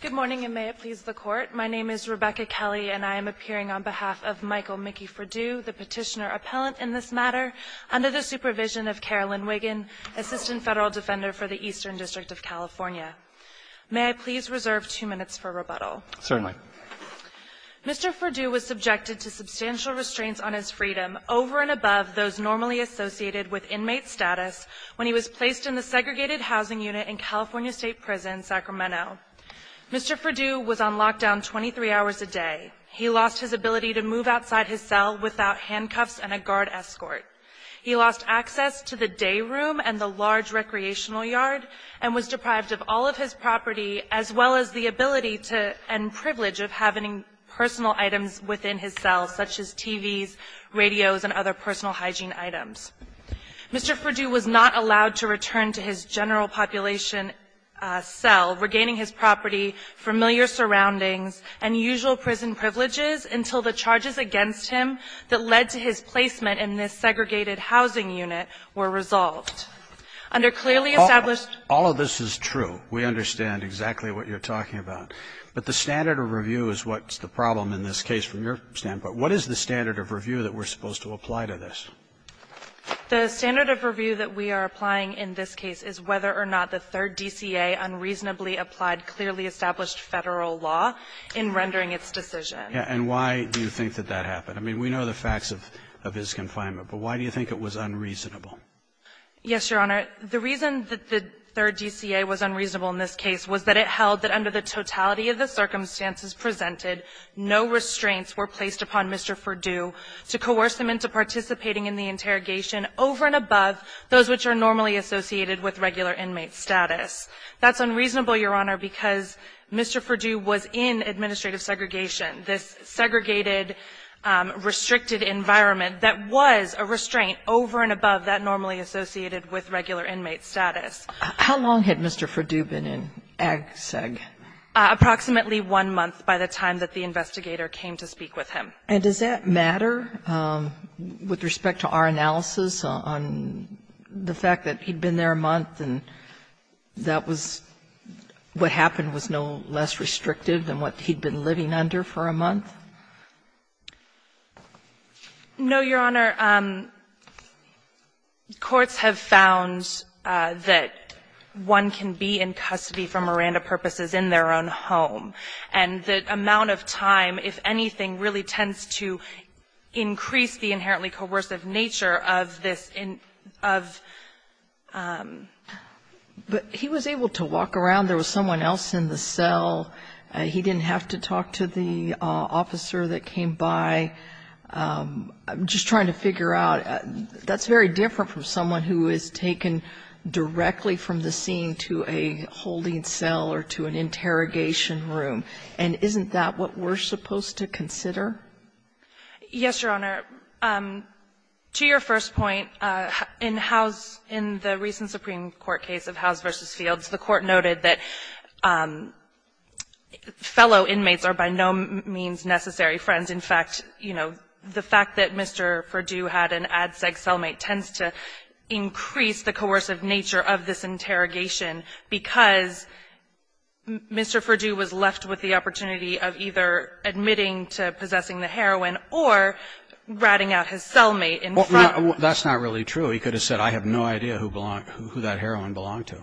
Good morning, and may it please the Court. My name is Rebecca Kelly, and I am appearing on behalf of Michael Mickey Fradiue, the petitioner-appellant in this matter, under the supervision of Carolyn Wiggin, Assistant Federal Defender for the Eastern District of California. May I please reserve two minutes for rebuttal? Certainly. Mr. Fradiue was subjected to substantial restraints on his freedom over and above those normally associated with inmate status when he was placed in the segregated housing unit in California State Prison, Sacramento. Mr. Fradiue was on lockdown 23 hours a day. He lost his ability to move outside his cell without handcuffs and a guard escort. He lost access to the day room and the large recreational yard, and was deprived of all of his property, as well as the ability to and privilege of having personal items within his cell, such as TVs, radios, and other personal hygiene items. Mr. Fradiue was not allowed to return to his general population cell, regaining his property, familiar surroundings, and usual prison privileges until the charges against him that led to his placement in this segregated housing unit were resolved. Under clearly established --" All of this is true. We understand exactly what you're talking about. But the standard of review is what's the problem in this case from your standpoint. What is the standard of review that we're supposed to apply to this? The standard of review that we are applying in this case is whether or not the Third DCA unreasonably applied clearly established Federal law in rendering its decision. And why do you think that that happened? I mean, we know the facts of his confinement, but why do you think it was unreasonable? Yes, Your Honor. The reason that the Third DCA was unreasonable in this case was that it held that under the totality of the circumstances presented, no restraints were placed upon Mr. Fradiue to coerce him into participating in the interrogation over and above those which are normally associated with regular inmate status. That's unreasonable, Your Honor, because Mr. Fradiue was in administrative segregation, this segregated, restricted environment that was a restraint over and above that normally associated with regular inmate status. How long had Mr. Fradiue been in AGSEG? Approximately one month by the time that the investigator came to speak with him. And does that matter with respect to our analysis on the fact that he had been there a month and that was what happened was no less restrictive than what he had been living under for a month? No, Your Honor. Courts have found that one can be in custody for Miranda purposes in their own home. And the amount of time, if anything, really tends to increase the inherently coercive nature of this, of ---- But he was able to walk around. There was someone else in the cell. He didn't have to talk to the officer that came by. I'm just trying to figure out. That's very different from someone who is taken directly from the scene to a holding cell or to an interrogation room, and isn't that what we're supposed to consider? Yes, Your Honor. To your first point, in House ---- in the recent Supreme Court case of House v. Fields, the Court noted that fellow inmates are by no means necessary friends. In fact, you know, the fact that Mr. Fradiue had an AGSEG cellmate tends to increase the coercive nature of this interrogation, because Mr. Fradiue was left with the opportunity of either admitting to possessing the heroin or ratting out his cellmate in front of him. That's not really true. He could have said, I have no idea who that heroin belonged to.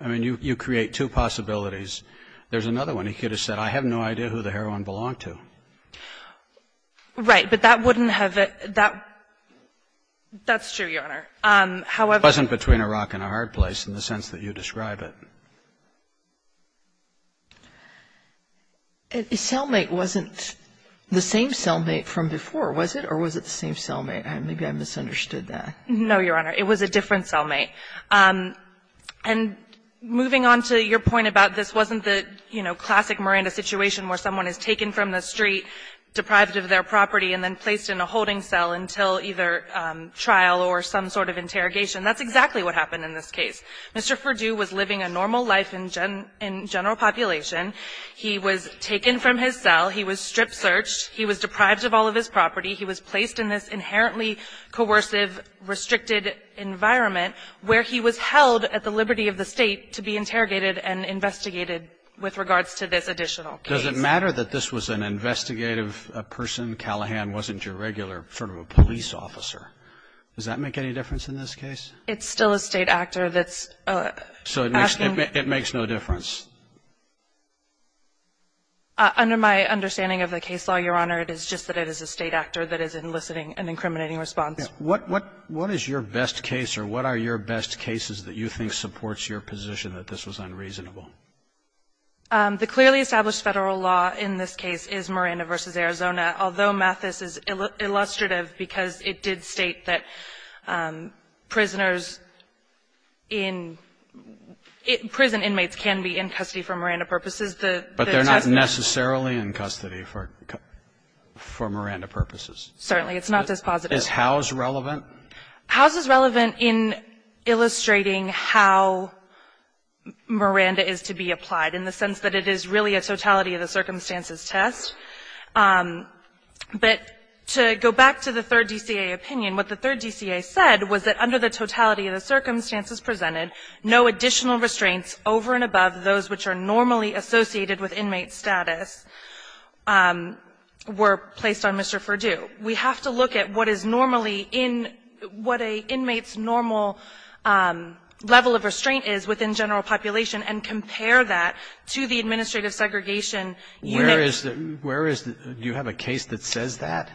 I mean, you create two possibilities. There's another one. He could have said, I have no idea who the heroin belonged to. Right. But that wouldn't have ---- that's true, Your Honor. However ---- It wasn't between a rock and a hard place in the sense that you describe it. Cellmate wasn't the same cellmate from before, was it? Or was it the same cellmate? Maybe I misunderstood that. No, Your Honor. It was a different cellmate. And moving on to your point about this wasn't the, you know, classic Miranda situation where someone is taken from the street, deprived of their property, and then placed in a holding cell until either trial or some sort of interrogation. That's exactly what happened in this case. Mr. Furdue was living a normal life in general population. He was taken from his cell. He was strip-searched. He was deprived of all of his property. He was placed in this inherently coercive, restricted environment where he was held at the liberty of the State to be interrogated and investigated with regards to this additional case. Does it matter that this was an investigative person? Callahan wasn't your regular sort of a police officer. Does that make any difference in this case? It's still a State actor that's asking ---- So it makes no difference? Under my understanding of the case law, Your Honor, it is just that it is a State actor that is enlisting an incriminating response. What is your best case, or what are your best cases that you think supports your position that this was unreasonable? The clearly established Federal law in this case is Miranda v. Arizona. Although Mathis is illustrative because it did state that prisoners in prison inmates can be in custody for Miranda purposes, the testimony ---- But they're not necessarily in custody for Miranda purposes. Certainly. It's not dispositive. Is Howe's relevant? Howe's is relevant in illustrating how Miranda is to be applied, in the sense that it is really a totality-of-the-circumstances test. But to go back to the Third DCA opinion, what the Third DCA said was that under the totality-of-the-circumstances presented, no additional restraints over and above those which are normally associated with inmate status were placed on Mr. Furdue. We have to look at what is normally in ---- what an inmate's normal level of restraint is within general population, and compare that to the administrative segregation unit. Where is the ---- do you have a case that says that,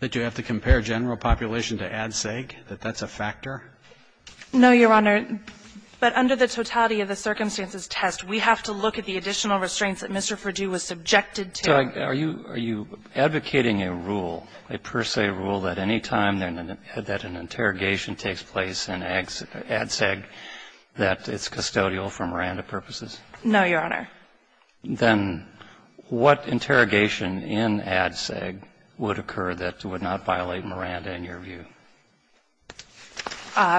that you have to compare general population to ad seg, that that's a factor? No, Your Honor. But under the totality-of-the-circumstances test, we have to look at the additional restraints that Mr. Furdue was subjected to. So are you advocating a rule, a per se rule, that any time that an interrogation takes place in ad seg, that it's custodial for Miranda purposes? No, Your Honor. Then what interrogation in ad seg would occur that would not violate Miranda, in your view?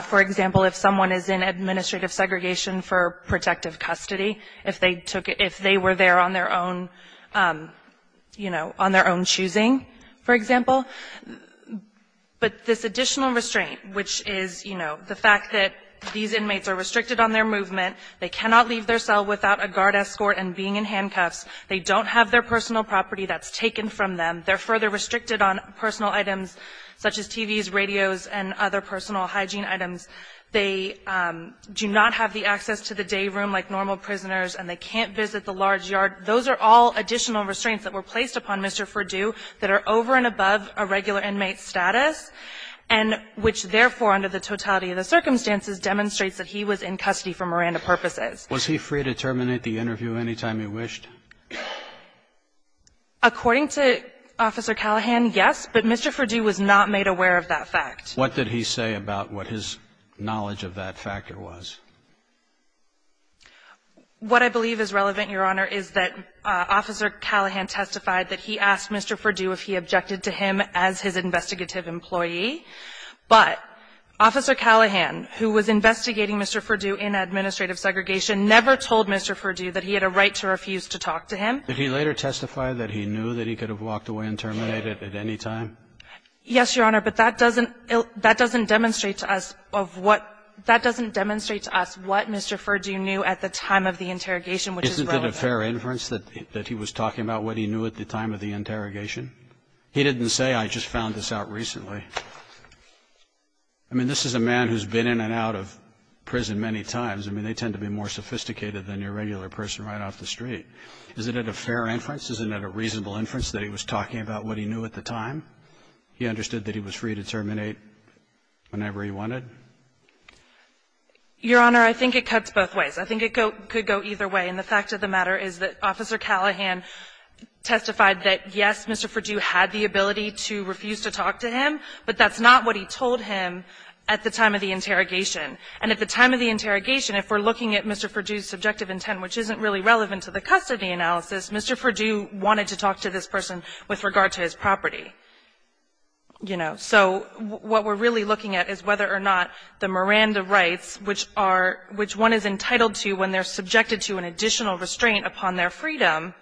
For example, if someone is in administrative segregation for protective custody, if they took ---- if they were there on their own, you know, on their own choosing, for example. But this additional restraint, which is, you know, the fact that these inmates are restricted on their movement, they cannot leave their cell without a guard escort and being in handcuffs, they don't have their personal property that's taken from them, they're further restricted on personal items such as TVs, radios, and other personal hygiene items. They do not have the access to the day room like normal prisoners, and they can't visit the large yard. Those are all additional restraints that were placed upon Mr. Furdue that are over and above a regular inmate's status, and which, therefore, under the totality of the circumstances, demonstrates that he was in custody for Miranda purposes. Was he free to terminate the interview any time he wished? According to Officer Callahan, yes, but Mr. Furdue was not made aware of that fact. What did he say about what his knowledge of that factor was? What I believe is relevant, Your Honor, is that Officer Callahan testified that he asked Mr. Furdue if he objected to him as his investigative employee, but Officer Callahan, who was investigating Mr. Furdue in administrative segregation, never told Mr. Furdue that he had a right to refuse to talk to him. Did he later testify that he knew that he could have walked away and terminated at any time? Yes, Your Honor, but that doesn't demonstrate to us of what Mr. Furdue knew at the time of the interrogation, which is relevant. Isn't it a fair inference that he was talking about what he knew at the time of the interrogation? He didn't say, I just found this out recently. I mean, this is a man who's been in and out of prison many times. I mean, they tend to be more sophisticated than your regular person right off the street. Isn't it a fair inference, isn't it a reasonable inference that he was talking about what he knew at the time? He understood that he was free to terminate whenever he wanted? Your Honor, I think it cuts both ways. I think it could go either way, and the fact of the matter is that Officer Callahan testified that, yes, Mr. Furdue had the ability to refuse to talk to him, but that's not what he told him at the time of the interrogation. And at the time of the interrogation, if we're looking at Mr. Furdue's subjective intent, which isn't really relevant to the custody analysis, Mr. Furdue wanted to talk to this person with regard to his property. You know, so what we're really looking at is whether or not the Miranda rights, which are – which one is entitled to when they're subjected to an additional restraint upon their freedom,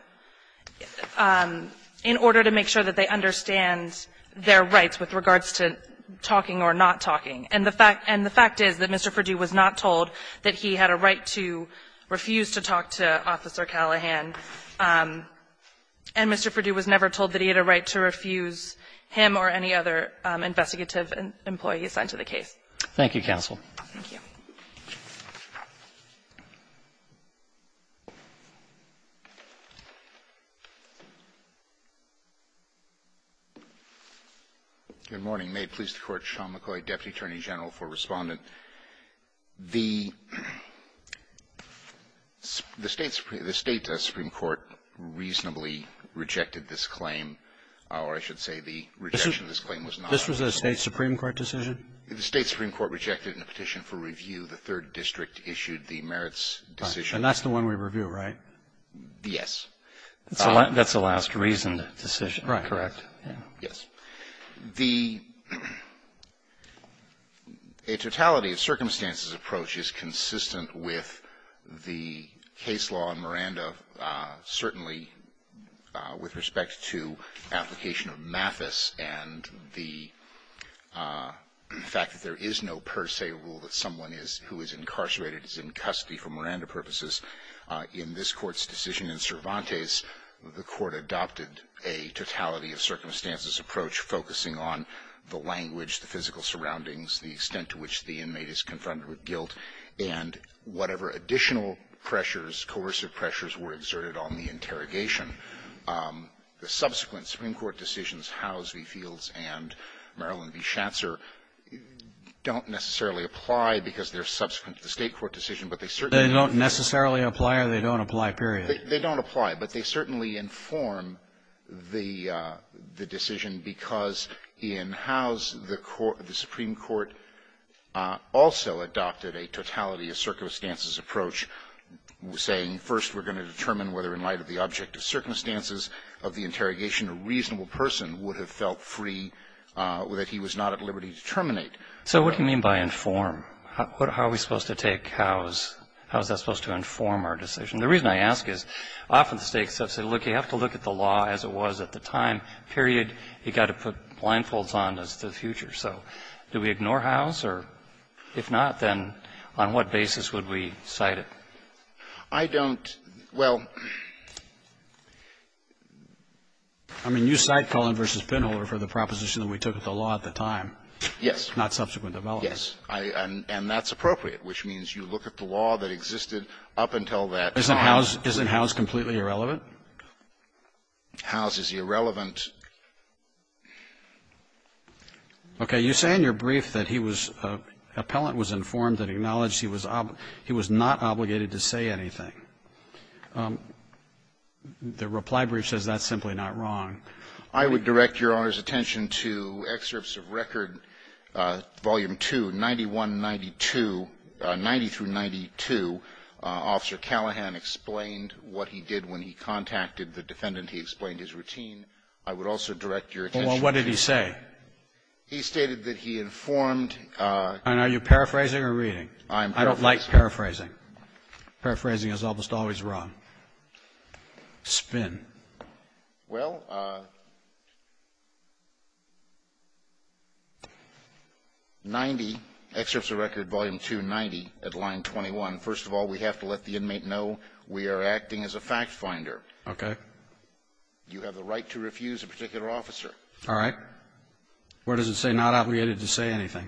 in order to make sure that they understand their rights with regards to talking or not talking. And the fact is that Mr. Furdue was not told that he had a right to refuse to talk to Officer Callahan. And Mr. Furdue was never told that he had a right to refuse him or any other investigative employee assigned to the case. Roberts. Thank you, counsel. Thank you. Good morning. May it please the Court. Sean McCoy, deputy attorney general for Respondent. The State supreme court reasonably rejected this claim, or I should say the rejection of this claim was not. This was a State supreme court decision? The State supreme court rejected it in a petition for review. The third district issued the merits decision. And that's the one we review, right? Yes. That's the last reasoned decision. Correct. Yes. The --"a totality of circumstances approach is consistent with the case law in Miranda, certainly with respect to application of Mathis and the fact that there is no per se rule that someone is who is incarcerated is in custody for Miranda purposes. In this court's decision in Cervantes, the court adopted a totality of circumstances approach focusing on the language, the physical surroundings, the extent to which the inmate is confronted with guilt, and whatever additional pressures, coercive pressures were exerted on the interrogation. The subsequent supreme court decisions, Howes v. Fields and Maryland v. Schatzer, don't necessarily apply because they're subsequent to the State court decision, but they certainly don't necessarily apply or they don't apply, period. They don't apply, but they certainly inform the decision because in Howes, the Supreme Court also adopted a totality of circumstances approach saying first we're going to determine whether in light of the object of circumstances of the interrogation a reasonable person would have felt free, that he was not at liberty to terminate. So what do you mean by inform? How are we supposed to take Howes? How is that supposed to inform our decision? The reason I ask is often the States have said, look, you have to look at the law as it was at the time, period. You've got to put blindfolds on as to the future. So do we ignore Howes? Or if not, then on what basis would we cite it? I don't. Well, I mean, you cite Cullen v. Penholder for the proposition that we took at the law at the time. Yes. Not subsequent development. Yes. And that's appropriate, which means you look at the law that existed up until that time. Isn't Howes completely irrelevant? Howes is irrelevant. Okay. You say in your brief that he was an appellant was informed and acknowledged he was not obligated to say anything. The reply brief says that's simply not wrong. I would direct Your Honor's attention to excerpts of record, Volume 2, 91, 92, 90 through 92. Officer Callahan explained what he did when he contacted the defendant. He explained his routine. I would also direct Your Honor's attention to that. Well, what did he say? He stated that he informed. And are you paraphrasing or reading? I'm paraphrasing. I don't like paraphrasing. Paraphrasing is almost always wrong. Spin. Well, 90, excerpts of record, Volume 2, 90, at line 21, first of all, we have to let the inmate know we are acting as a fact finder. Okay. You have the right to refuse a particular officer. All right. Where does it say not obligated to say anything?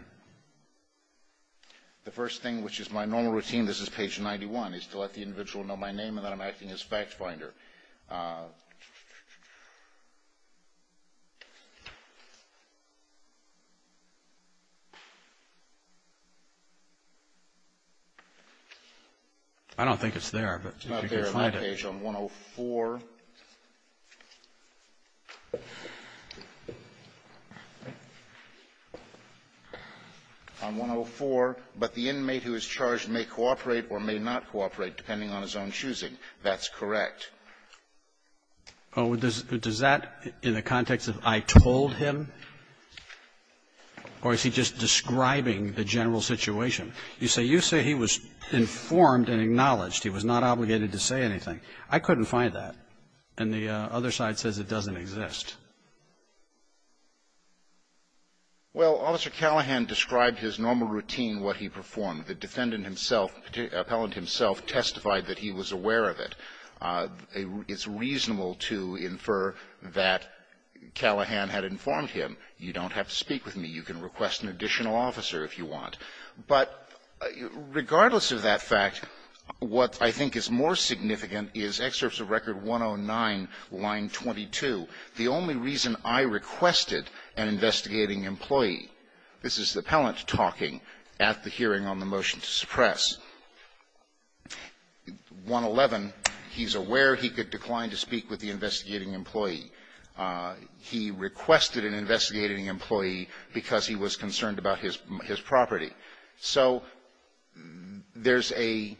The first thing, which is my normal routine, this is page 91, is to let the individual know my name and that I'm acting as fact finder. I don't think it's there. It's not there. It's on page 104. On 104, but the inmate who is charged may cooperate or may not cooperate, depending on his own choosing. That's correct. Oh, does that, in the context of I told him? Or is he just describing the general situation? You say he was informed and acknowledged. He was not obligated to say anything. I couldn't find that. And the other side says it doesn't exist. Well, Officer Callahan described his normal routine, what he performed. The defendant himself, Appellant himself, testified that he was aware of it. It's reasonable to infer that Callahan had informed him. You don't have to speak with me. You can request an additional officer if you want. But regardless of that fact, what I think is more significant is Excerpts of Record 109, line 22. The only reason I requested an investigating employee, this is the Appellant talking at the hearing on the motion to suppress, 111, he's aware he could decline to speak with the investigating employee. He requested an investigating employee because he was concerned about his property. So there's a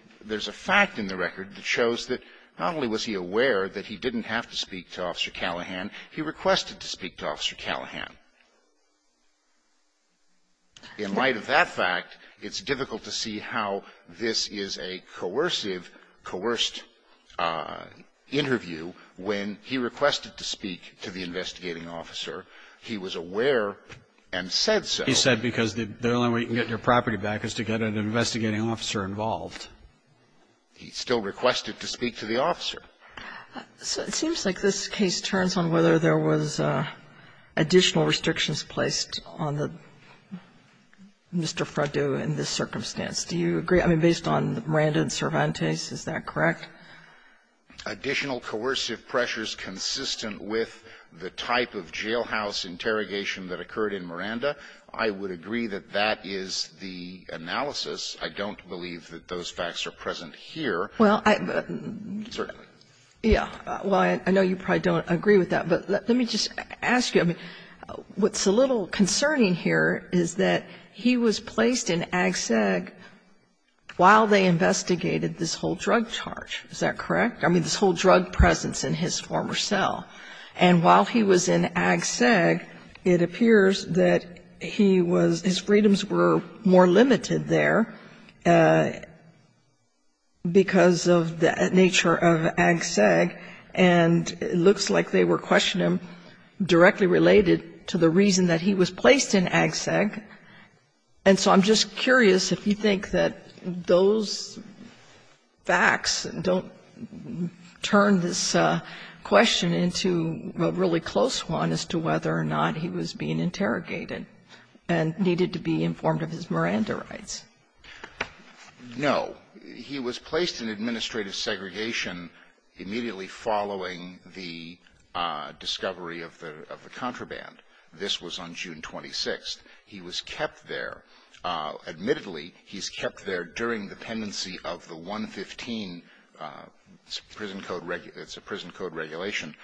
fact in the record that shows that not only was he aware that he didn't have to speak to Officer Callahan, he requested to speak to Officer Callahan. In light of that fact, it's difficult to see how this is a coercive, coerced interview when he requested to speak to the investigating officer. He was aware and said so. He said because the only way you can get your property back is to get an investigating officer involved. He still requested to speak to the officer. Sotomayor, it seems like this case turns on whether there was additional restrictions placed on the Mr. Freddo in this circumstance. Do you agree? I mean, based on Miranda and Cervantes, is that correct? Additional coercive pressures consistent with the type of jailhouse interrogation that occurred in Miranda, I would agree that that is the analysis. I don't believe that those facts are present here. Well, I don't think so. Yeah. Well, I know you probably don't agree with that, but let me just ask you, I mean, what's a little concerning here is that he was placed in Ag-Seg while they investigated this whole drug charge. Is that correct? I mean, this whole drug presence in his former cell. And while he was in Ag-Seg, it appears that he was his freedoms were more limited there because of the nature of Ag-Seg. And it looks like they were questioning him directly related to the reason that he was placed in Ag-Seg. And so I'm just curious if you think that those facts don't turn this question into a really close one as to whether or not he was being interrogated and needed to be informed of his Miranda rights. No. He was placed in administrative segregation immediately following the discovery of the contraband. This was on June 26th. He was kept there. Admittedly, he's kept there during the pendency of the 115 prison code regulation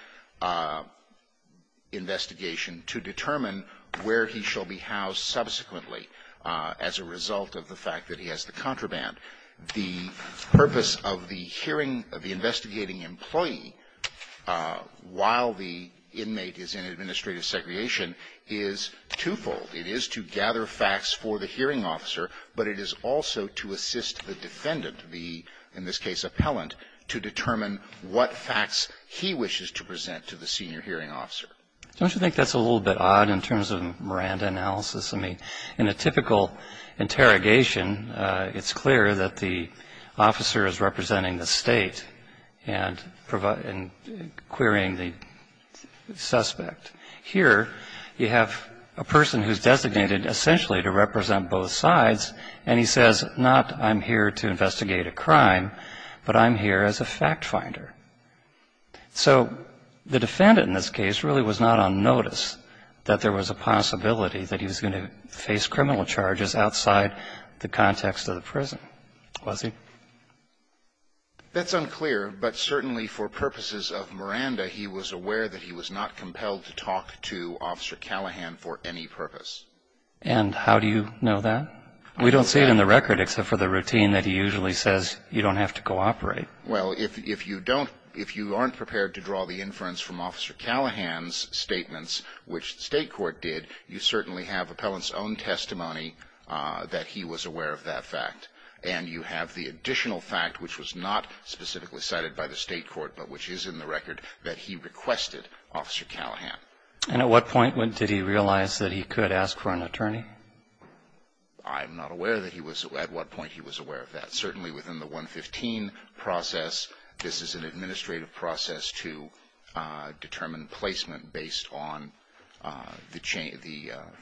investigation to determine where he shall be housed subsequently. As a result of the fact that he has the contraband, the purpose of the hearing of the investigating employee while the inmate is in administrative segregation is twofold. It is to gather facts for the hearing officer, but it is also to assist the defendant, the, in this case, appellant, to determine what facts he wishes to present to the senior hearing officer. Don't you think that's a little bit odd in terms of Miranda analysis? I mean, in a typical interrogation, it's clear that the officer is representing the state and querying the suspect. Here, you have a person who's designated essentially to represent both sides, and he says, not I'm here to investigate a crime, but I'm here as a fact finder. So the defendant in this case really was not on notice that there was a possibility that he was going to face criminal charges outside the context of the prison, was he? That's unclear, but certainly for purposes of Miranda, he was aware that he was not compelled to talk to Officer Callahan for any purpose. And how do you know that? We don't see it in the record except for the routine that he usually says you don't have to cooperate. Well, if you don't, if you aren't prepared to draw the inference from Officer Callahan's statements, which the state court did, you certainly have appellant's own testimony that he was aware of that fact. And you have the additional fact, which was not specifically cited by the state court, but which is in the record, that he requested Officer Callahan. And at what point did he realize that he could ask for an attorney? I'm not aware that he was, at what point he was aware of that. Certainly within the 115 process, this is an administrative process to determine placement based on the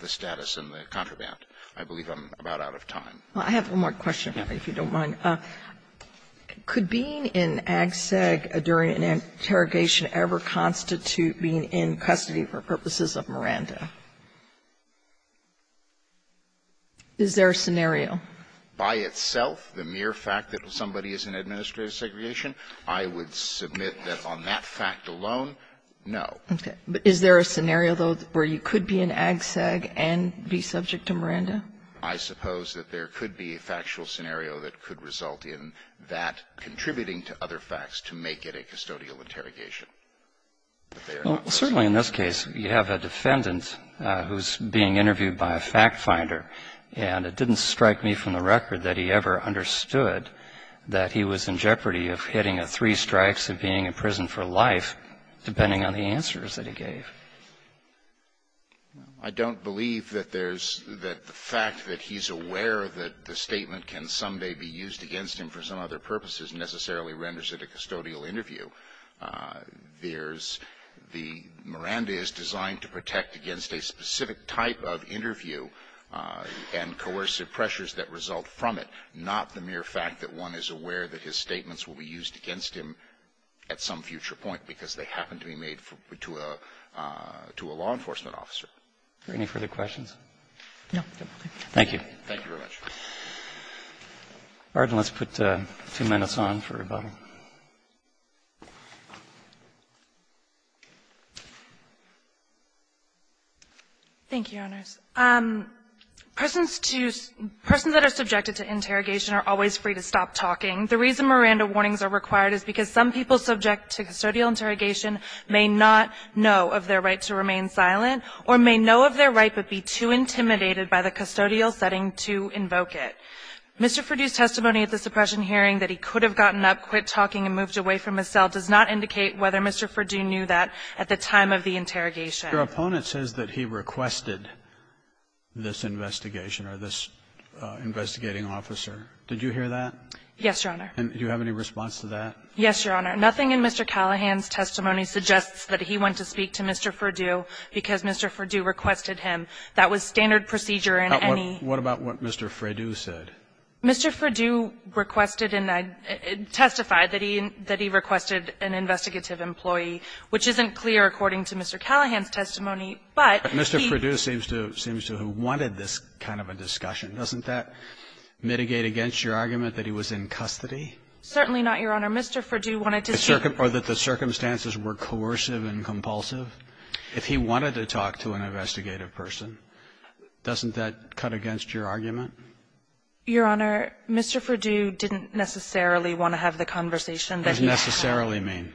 status and the contraband. I believe I'm about out of time. Well, I have one more question, if you don't mind. Could being in AGSEG during an interrogation ever constitute being in custody for purposes of Miranda? Is there a scenario? By itself, the mere fact that somebody is in administrative segregation, I would submit that on that fact alone, no. But is there a scenario, though, where you could be in AGSEG and be subject to Miranda? I suppose that there could be a factual scenario that could result in that contributing to other facts to make it a custodial interrogation. Certainly in this case, you have a defendant who's being interviewed by a fact finder. And it didn't strike me from the record that he ever understood that he was in jeopardy of hitting a three strikes and being in prison for life, depending on the answers that he gave. I don't believe that there's the fact that he's aware that the statement can someday be used against him for some other purposes necessarily renders it a custodial interview. There's the Miranda is designed to protect against a specific type of interview and coercive pressures that result from it, not the mere fact that one is aware that his statements will be used against him at some future point because they happen to be made to a law enforcement officer. Are there any further questions? No. Thank you. Thank you very much. All right. Let's put two minutes on for rebuttal. Thank you, Your Honors. Persons that are subjected to interrogation are always free to stop talking. The reason Miranda warnings are required is because some people subject to custodial interrogation may not know of their right to remain silent or may know of their right but be too intimidated by the custodial setting to invoke it. Mr. Furdue's testimony at the suppression hearing that he could have gotten up, quit talking and moved away from his cell does not indicate whether Mr. Furdue knew that at the time of the interrogation. Your opponent says that he requested this investigation or this investigating officer. Did you hear that? Yes, Your Honor. And do you have any response to that? Yes, Your Honor. Nothing in Mr. Callahan's testimony suggests that he went to speak to Mr. Furdue because Mr. Furdue requested him. That was standard procedure in any ---- What about what Mr. Furdue said? Mr. Furdue requested and testified that he requested an investigative employee, which isn't clear according to Mr. Callahan's testimony, but he ---- But Mr. Furdue seems to have wanted this kind of a discussion. Doesn't that mitigate against your argument that he was in custody? Certainly not, Your Honor. Mr. Furdue wanted to ---- Or that the circumstances were coercive and compulsive? If he wanted to talk to an investigative person, doesn't that cut against your argument? Your Honor, Mr. Furdue didn't necessarily want to have the conversation that he had. Doesn't necessarily mean?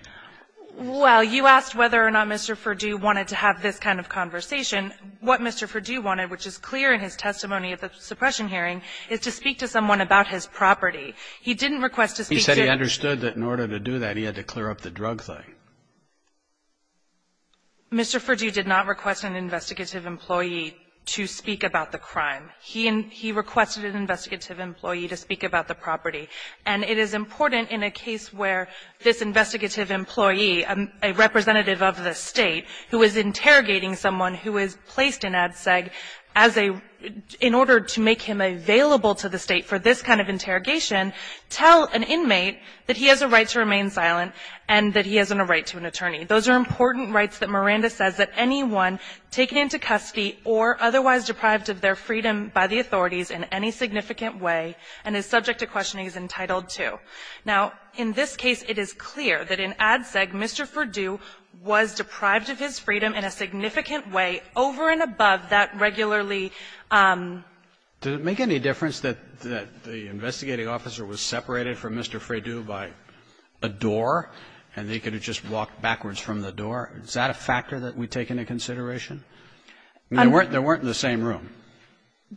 Well, you asked whether or not Mr. Furdue wanted to have this kind of conversation. What Mr. Furdue wanted, which is clear in his testimony at the suppression hearing, is to speak to someone about his property. He didn't request to speak to ---- He said he understood that in order to do that, he had to clear up the drug thing. Mr. Furdue did not request an investigative employee to speak about the crime. He requested an investigative employee to speak about the property. And it is important in a case where this investigative employee, a representative of the State, who is interrogating someone who is placed in ADSEG as a ---- in order to make him available to the State for this kind of interrogation, tell an inmate that he has a right to remain silent and that he has a right to an attorney. Those are important rights that Miranda says that anyone taken into custody or otherwise deprived of their freedom by the authorities in any significant way and is subject to questioning is entitled to. Now, in this case, it is clear that in ADSEG, Mr. Furdue was deprived of his freedom in a significant way over and above that regularly ---- Did it make any difference that the investigating officer was separated from Mr. Furdue by a door and they could have just walked backwards from the door? Is that a factor that we take into consideration? There weren't in the same room.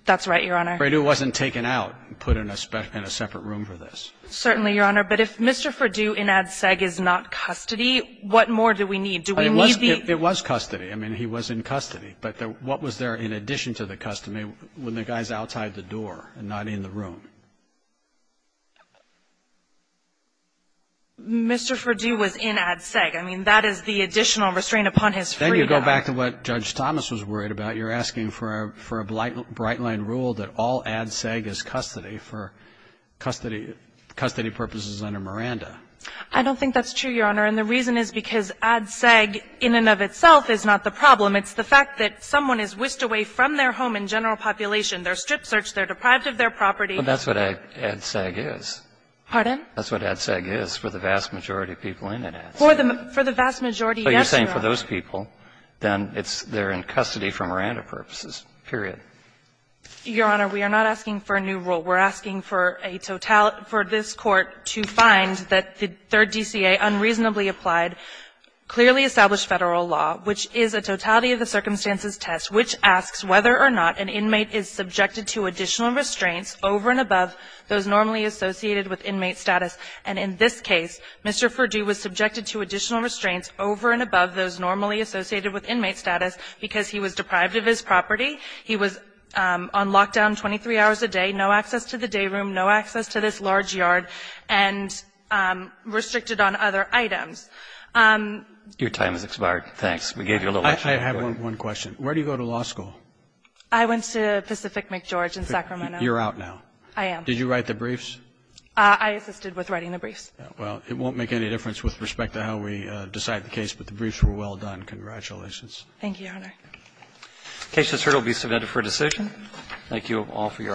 That's right, Your Honor. Furdue wasn't taken out and put in a separate room for this. Certainly, Your Honor. But if Mr. Furdue in ADSEG is not custody, what more do we need? Do we need the ---- It was custody. I mean, he was in custody. But what was there in addition to the custody when the guy is outside the door and not in the room? Mr. Furdue was in ADSEG. I mean, that is the additional restraint upon his freedom. Then you go back to what Judge Thomas was worried about. You're asking for a bright-line rule that all ADSEG is custody for custody purposes under Miranda. I don't think that's true, Your Honor. And the reason is because ADSEG in and of itself is not the problem. It's the fact that someone is whisked away from their home in general population, they're strip searched, they're deprived of their property. Well, that's what ADSEG is. Pardon? That's what ADSEG is for the vast majority of people in ADSEG. For the vast majority, yes, Your Honor. So you're saying for those people, then it's they're in custody for Miranda purposes, period. Your Honor, we are not asking for a new rule. We're asking for a totality for this Court to find that the third DCA unreasonably applied, clearly established Federal law, which is a totality of the circumstances test, which asks whether or not an inmate is subjected to additional restraints over and above those normally associated with inmate status. And in this case, Mr. Furdue was subjected to additional restraints over and above those normally associated with inmate status because he was deprived of his property, he was on lockdown 23 hours a day, no access to the day room, no access to this large yard, and restricted on other items. Your time has expired. Thanks. We gave you a little extra. I have one question. Where do you go to law school? I went to Pacific McGeorge in Sacramento. You're out now. I am. Did you write the briefs? I assisted with writing the briefs. Well, it won't make any difference with respect to how we decide the case, but the briefs were well done. Congratulations. Thank you, Your Honor. The case is heard. It will be submitted for decision. Thank you all for your arguments.